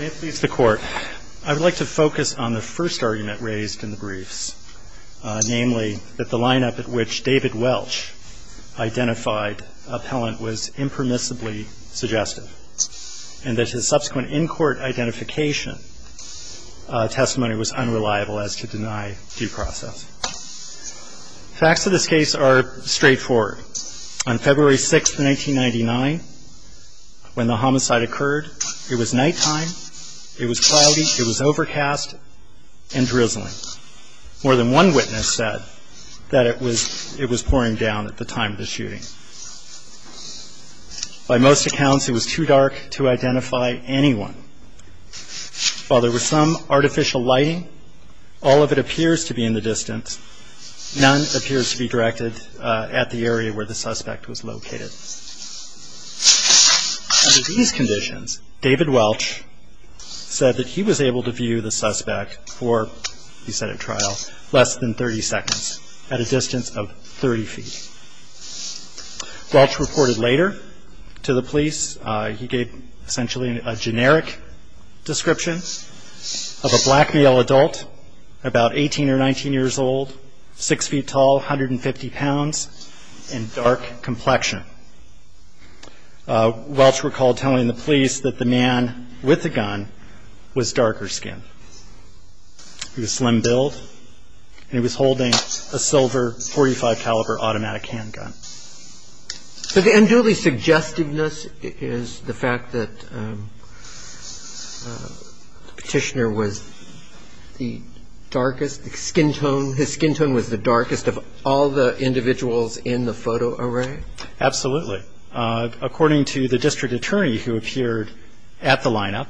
I would like to focus on the first argument raised in the briefs, namely that the lineup at which David Welch identified Appellant was impermissibly suggestive, and that his subsequent in-court identification testimony was unreliable as to deny due process. Facts of this case are straightforward. On February 6, 1999, when the homicide occurred, it was nighttime, it was cloudy, it was overcast, and drizzling. More than one witness said that it was pouring down at the time of the shooting. By most accounts, it was too dark to identify anyone. While there was some artificial lighting, all of it appears to be in the distance. None appears to be directed at the area where the suspect was located. Under these conditions, David Welch said that he was able to view the suspect for less than 30 seconds, at a distance of 30 feet. Welch reported later to the police that he gave a generic description of a black male adult, about 18 or 19 years old, 6 feet tall, 150 pounds, and dark complexion. Welch recalled telling the police that the man with the gun was darker skinned. He was slim-billed, and he was holding a silver .45-caliber automatic handgun. So the unduly suggestiveness is the fact that the petitioner was the darkest, the skin tone, his skin tone was the darkest of all the individuals in the photo array? Absolutely. According to the district attorney who appeared at the lineup,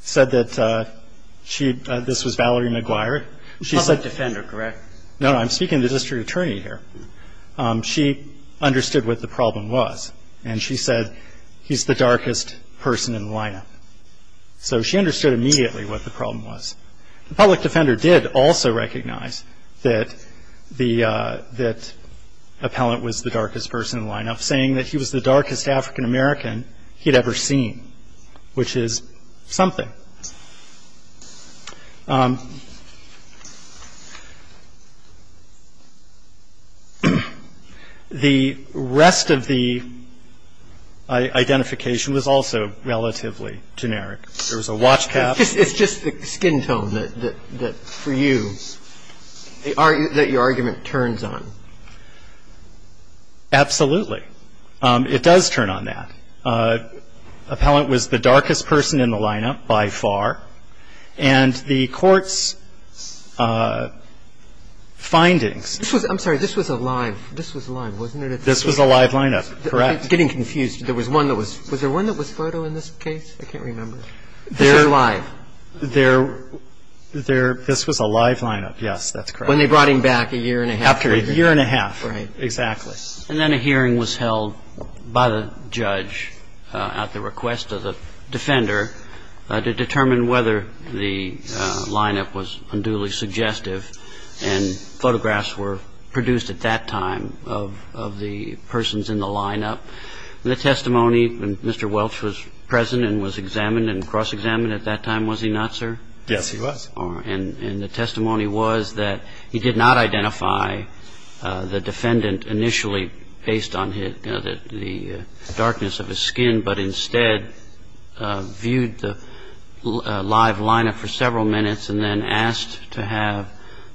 said that she, this was Valerie McGuire. Public defender, correct? No, I'm speaking to the district attorney here. She understood what the problem was, and she said he's the darkest person in the lineup. So she understood immediately what the problem was. The public defender did also recognize that the appellant was the darkest person in the lineup, saying that he was the darkest African-American he'd ever seen, which is something. The rest of the identification was also relatively generic. There was a watch cap. It's just the skin tone that for you, that your argument turns on. Absolutely. It does turn on that. Appellant was the darkest person in the lineup by far, and the court's findings. This was, I'm sorry, this was a live, this was a live, wasn't it? This was a live lineup, correct. I'm getting confused. There was one that was, was there one that was photo in this case? I can't remember. They're live. They're, this was a live lineup, yes, that's correct. When they brought him back a year and a half later. After a year and a half, exactly. And then a hearing was held by the judge at the request of the defender to determine whether the lineup was unduly suggestive, and photographs were produced at that time of the persons in the lineup. The testimony, Mr. Welch was present and was examined and cross-examined at that time, was he not, sir? Yes, he was. And the testimony was that he did not identify the defendant initially based on the darkness of his skin, but instead viewed the live lineup for several minutes and then asked to have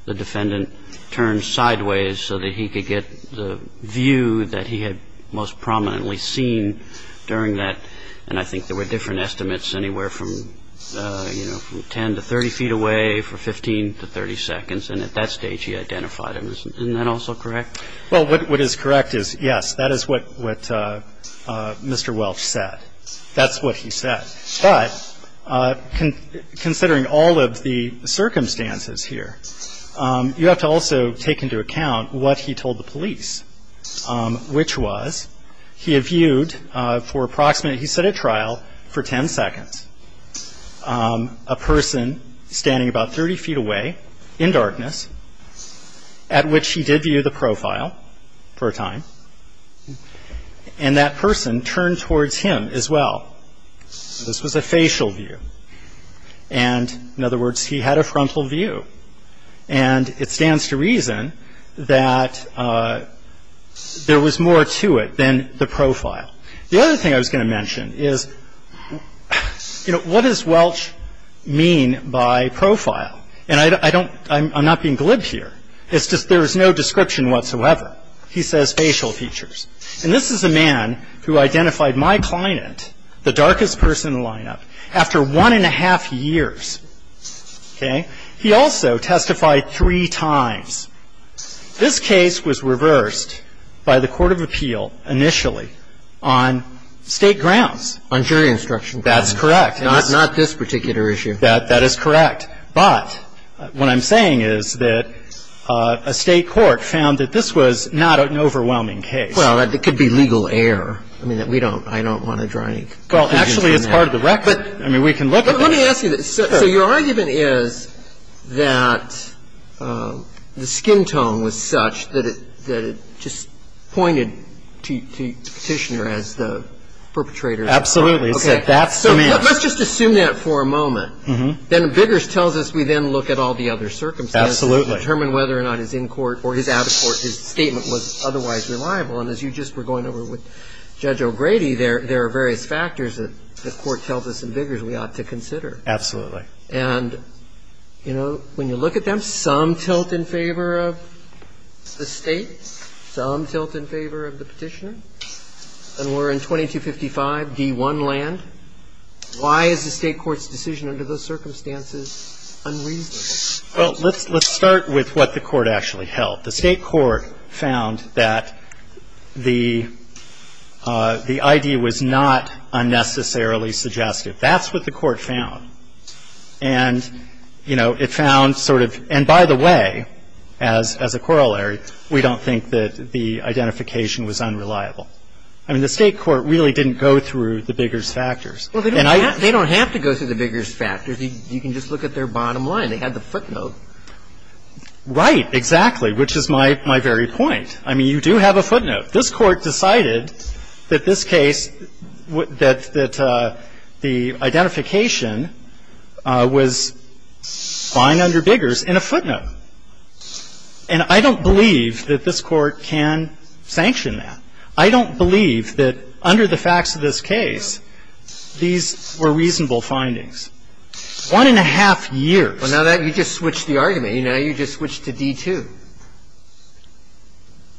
the defendant turn sideways so that he could get the view that he had most prominently seen during that. And I think there were different estimates anywhere from, you know, 10 to 30 feet away for 15 to 30 seconds, and at that stage he identified him. Isn't that also correct? Well, what is correct is yes, that is what Mr. Welch said. That's what he said. But considering all of the circumstances here, you have to also take into account what he told the police, which was he had viewed for approximately, he said at trial, for 10 seconds, a person standing about 30 feet away in darkness, at which he did view the profile for a time, and that person turned towards him as well. This was a facial view. And, in other words, he had a frontal view. And it stands to reason that there was more to it than the profile. The other thing I was going to mention is, you know, what does Welch mean by profile? And I don't, I'm not being glib here. It's just there is no description whatsoever. He says facial features. And this is a man who identified my client, the darkest person in the lineup, after one and a half years. Okay? He also testified three times. This case was reversed by the court of appeal initially on State grounds. On jury instruction grounds. That's correct. Not this particular issue. That is correct. But what I'm saying is that a State court found that this was not an overwhelming case. Well, it could be legal error. I mean, we don't, I don't want to draw any conclusions from that. Well, actually, it's part of the record. I mean, we can look at it. Let me ask you this. So your argument is that the skin tone was such that it just pointed to the petitioner as the perpetrator. Absolutely. So that's the man. Let's just assume that for a moment. Then Biggers tells us we then look at all the other circumstances. Absolutely. Determine whether or not his in-court or his out-of-court, his statement was otherwise reliable. And as you just were going over with Judge O'Grady, there are various factors that the court tells us that we ought to consider. Absolutely. And, you know, when you look at them, some tilt in favor of the State, some tilt in favor of the petitioner. And we're in 2255d1 land. Why is the State court's decision under those circumstances unreasonable? Well, let's start with what the court actually held. The State court found that the idea was not unnecessarily suggestive. That's what the court found. And, you know, it found sort of, and by the way, as a corollary, we don't think that the identification was unreliable. I mean, the State court really didn't go through the Biggers factors. Well, they don't have to go through the Biggers factors. You can just look at their bottom line. They had the footnote. Right, exactly, which is my very point. I mean, you do have a footnote. This Court decided that this case, that the identification was fine under Biggers in a footnote. And I don't believe that this Court can sanction that. I don't believe that under the facts of this case, these were reasonable findings. One and a half years. Well, now you just switched the argument. You know, you just switched to d2.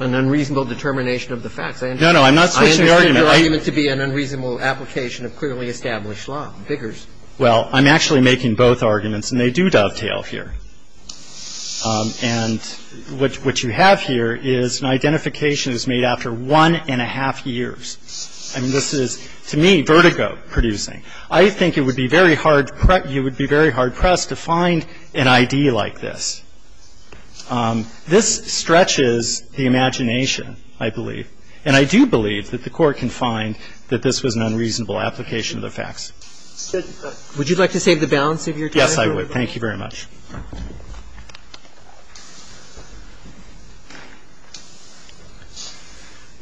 An unreasonable determination of the facts. I understand. No, no. I'm not switching the argument. I understand your argument to be an unreasonable application of clearly established law, Biggers. Well, I'm actually making both arguments, and they do dovetail here. And what you have here is an identification that's made after one and a half years. I mean, this is, to me, vertigo-producing. I think it would be very hard pressed to find an ID like this. This stretches the imagination, I believe. And I do believe that the Court can find that this was an unreasonable application of the facts. Would you like to save the balance of your time? Yes, I would. Thank you very much.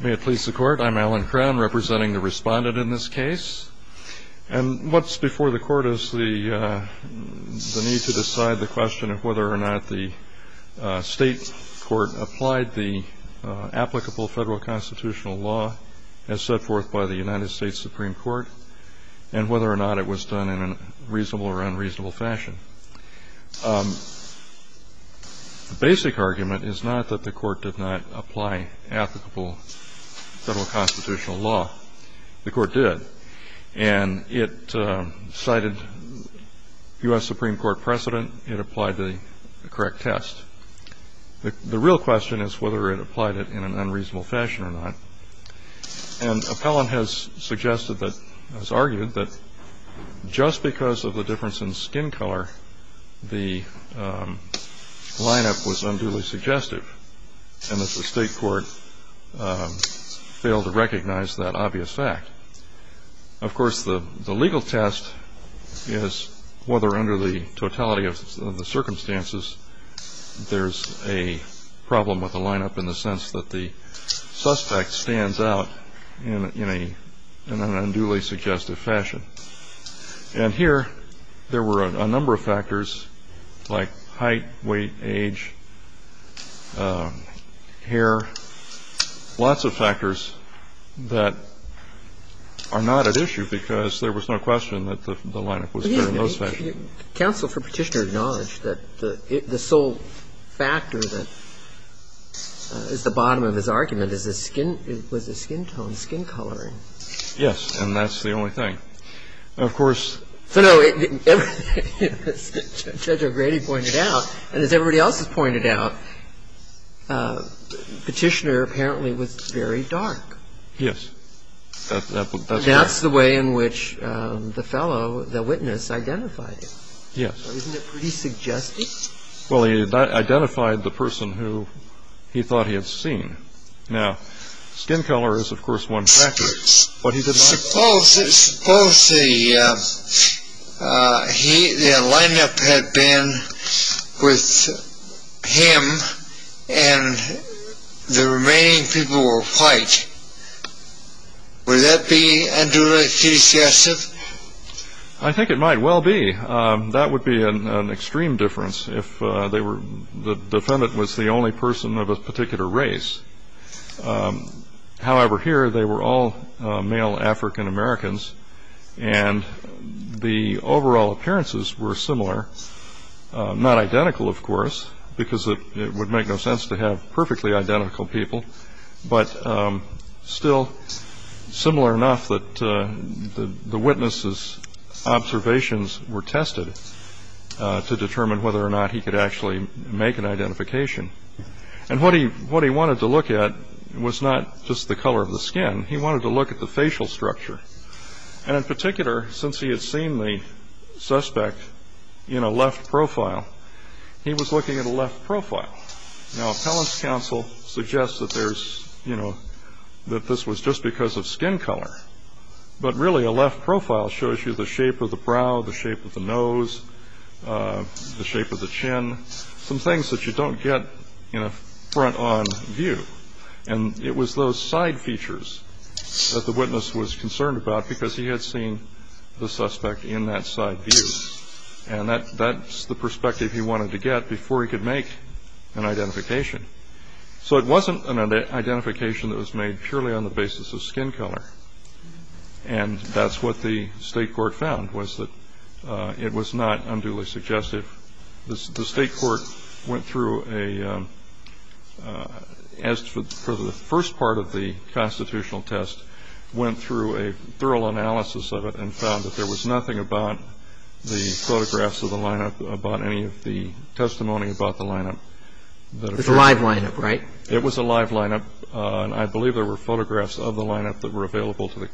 May it please the Court. I'm Alan Crown, representing the Respondent in this case. And what's before the Court is the need to decide the question of whether or not the State Court applied the applicable federal constitutional law as set forth by the United States Supreme Court and whether or not it was done in a reasonable or unreasonable fashion. The basic argument is not that the Court did not apply applicable federal constitutional law. The Court did. And it cited U.S. Supreme Court precedent. It applied the correct test. The real question is whether it applied it in an unreasonable fashion or not. And Appellant has suggested that, has argued that just because of the difference in skin color, the lineup was unduly suggestive. And that the State Court failed to recognize that obvious fact. Of course, the legal test is whether under the totality of the circumstances there's a problem with the lineup in the sense that the suspect stands out in an unduly suggestive fashion. And here there were a number of factors like height, weight, age, hair, lots of factors that are not at issue because there was no question that the lineup was in an unduly suggestive fashion. Counsel for Petitioner acknowledged that the sole factor that is the bottom of his argument is the skin tone, skin coloring. Yes. And that's the only thing. Of course. So no, as Judge O'Grady pointed out, and as everybody else has pointed out, Petitioner apparently was very dark. Yes. That's the way in which the fellow, the witness, identified him. Yes. Isn't it pretty suggestive? Well, he identified the person who he thought he had seen. Now, skin color is, of course, one factor. Suppose the lineup had been with him and the remaining people were white. Would that be unduly suggestive? I think it might well be. That would be an extreme difference if the defendant was the only person of a particular race. However, here they were all male African Americans, and the overall appearances were similar. Not identical, of course, because it would make no sense to have perfectly identical people, but still similar enough that the witness's observations were tested to determine whether or not he could actually make an identification. And what he wanted to look at was not just the color of the skin. He wanted to look at the facial structure. And in particular, since he had seen the suspect in a left profile, he was looking at a left profile. Now, appellant's counsel suggests that this was just because of skin color, but really a left profile shows you the shape of the brow, the shape of the nose, the shape of the chin, some things that you don't get in a front-on view. And it was those side features that the witness was concerned about because he had seen the suspect in that side view, and that's the perspective he wanted to get before he could make an identification. So it wasn't an identification that was made purely on the basis of skin color, and that's what the State Court found was that it was not unduly suggestive. The State Court went through a, as for the first part of the constitutional test, went through a thorough analysis of it and found that there was nothing about the photographs of the lineup, about any of the testimony about the lineup. It was a live lineup, right? It was a live lineup, and I believe there were photographs of the lineup that were available to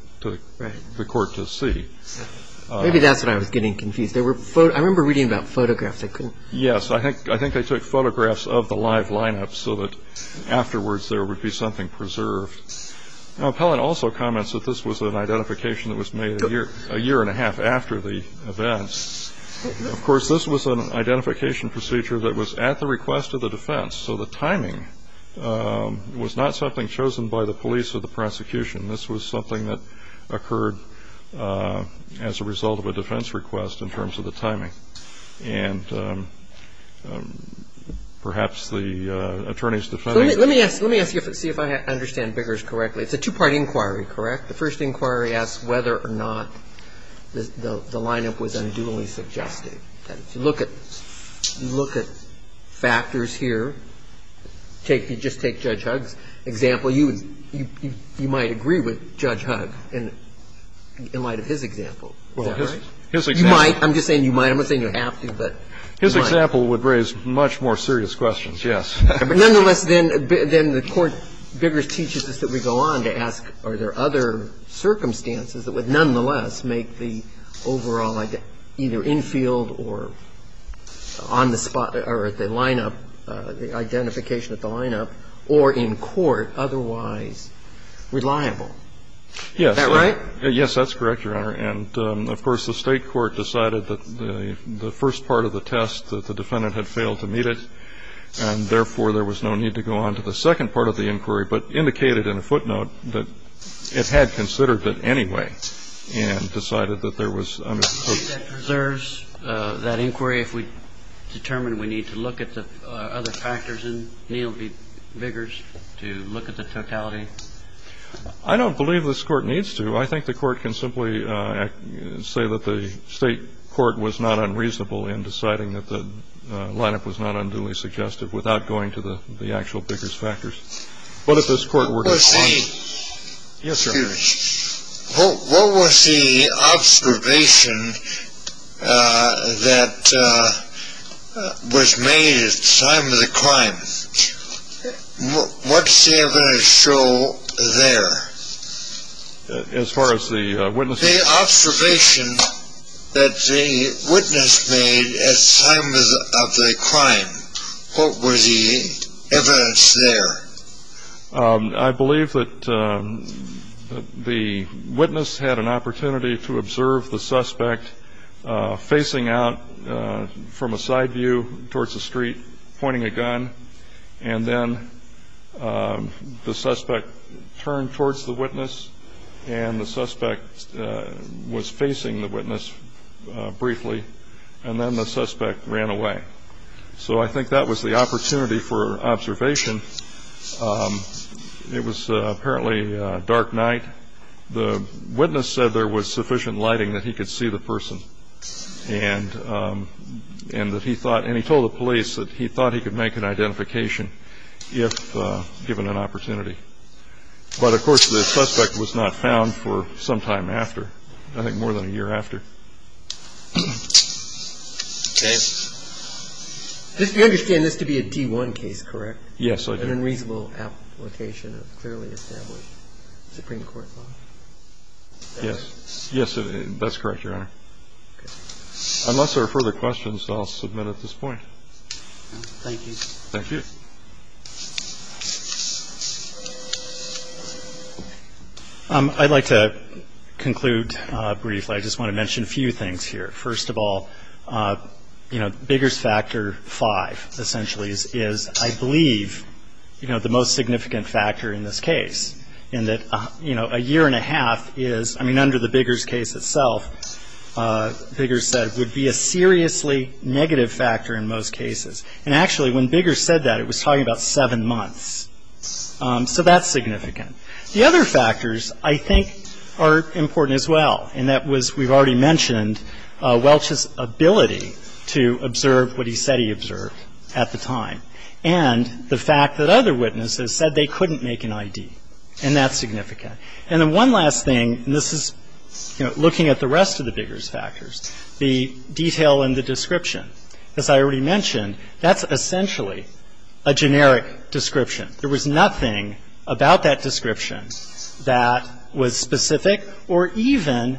the court to see. Maybe that's what I was getting confused. I remember reading about photographs. Yes, I think they took photographs of the live lineup so that afterwards there would be something preserved. Appellant also comments that this was an identification that was made a year and a half after the events. Of course, this was an identification procedure that was at the request of the defense, so the timing was not something chosen by the police or the prosecution. This was something that occurred as a result of a defense request in terms of the timing. And perhaps the attorney's defense. Let me ask you to see if I understand Biggers correctly. It's a two-part inquiry, correct? The first inquiry asks whether or not the lineup was unduly suggestive. If you look at factors here, take you just take Judge Huggs' example, you might agree with Judge Huggs in light of his example. Is that right? His example. You might. I'm just saying you might. I'm not saying you have to, but you might. His example would raise much more serious questions, yes. But nonetheless, then the Court, Biggers teaches us that we go on to ask are there other circumstances that would nonetheless make the overall either infield or on the spot or at the lineup, the identification at the lineup, or in court otherwise reliable? Yes. Is that right? Yes, that's correct, Your Honor. And, of course, the State court decided that the first part of the test that the defendant had failed to meet it, and therefore there was no need to go on to the second part of the inquiry, but indicated in a footnote that it had considered it anyway and decided that there was unopposed. Do you think that preserves that inquiry if we determine we need to look at the other factors in Neal v. Biggers to look at the totality? I don't believe this Court needs to. I think the Court can simply say that the State court was not unreasonable in deciding that the lineup was not unduly suggestive without going to the actual Biggers factors. What was the observation that was made at the time of the crime? What's the evidence show there? As far as the witnesses? The observation that the witness made at the time of the crime. What was the evidence there? I believe that the witness had an opportunity to observe the suspect facing out from a side view towards the street, pointing a gun, and then the suspect turned towards the witness and the suspect was facing the witness briefly, and then the suspect ran away. So I think that was the opportunity for observation. It was apparently a dark night. The witness said there was sufficient lighting that he could see the person and that he thought and he told the police that he thought he could make an identification if given an opportunity. But, of course, the suspect was not found for some time after, I think more than a year after. Okay. Do you understand this to be a D1 case, correct? Yes, I do. An unreasonable application of clearly established Supreme Court law? Yes. Yes, that's correct, Your Honor. Okay. Unless there are further questions, I'll submit at this point. Thank you. Thank you. Thank you. I'd like to conclude briefly. I just want to mention a few things here. First of all, you know, Bigger's Factor 5 essentially is, I believe, you know, the most significant factor in this case in that, you know, a year and a half is, I mean, under the Bigger's case itself, Bigger's said would be a seriously negative factor in most cases. And, actually, when Bigger said that, it was talking about seven months. So that's significant. The other factors, I think, are important as well, and that was, we've already mentioned, Welch's ability to observe what he said he observed at the time and the fact that other witnesses said they couldn't make an ID. And that's significant. And then one last thing, and this is, you know, looking at the rest of the Bigger's factors, the detail in the description. As I already mentioned, that's essentially a generic description. There was nothing about that description that was specific or even,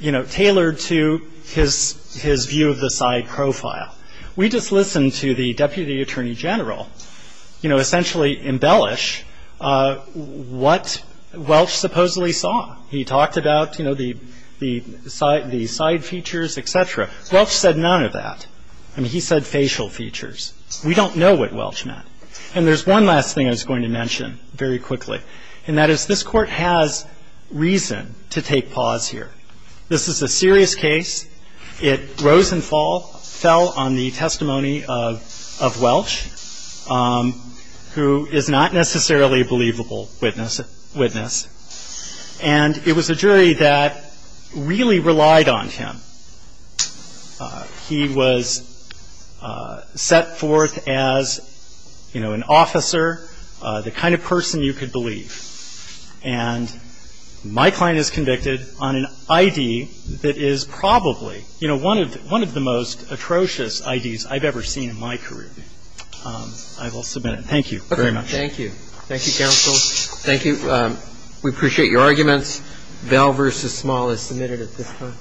you know, tailored to his view of the side profile. We just listened to the Deputy Attorney General, you know, essentially embellish what Welch supposedly saw. He talked about, you know, the side features, et cetera. Welch said none of that. I mean, he said facial features. We don't know what Welch meant. And there's one last thing I was going to mention very quickly, and that is this Court has reason to take pause here. This is a serious case. It rose and fell on the testimony of Welch, who is not necessarily a believable witness. And it was a jury that really relied on him. He was set forth as, you know, an officer, the kind of person you could believe. And my client is convicted on an ID that is probably, you know, one of the most atrocious IDs I've ever seen in my career. I will submit it. Thank you very much. Thank you. Thank you, counsel. Thank you. We appreciate your arguments. Bell v. Small is submitted at this time.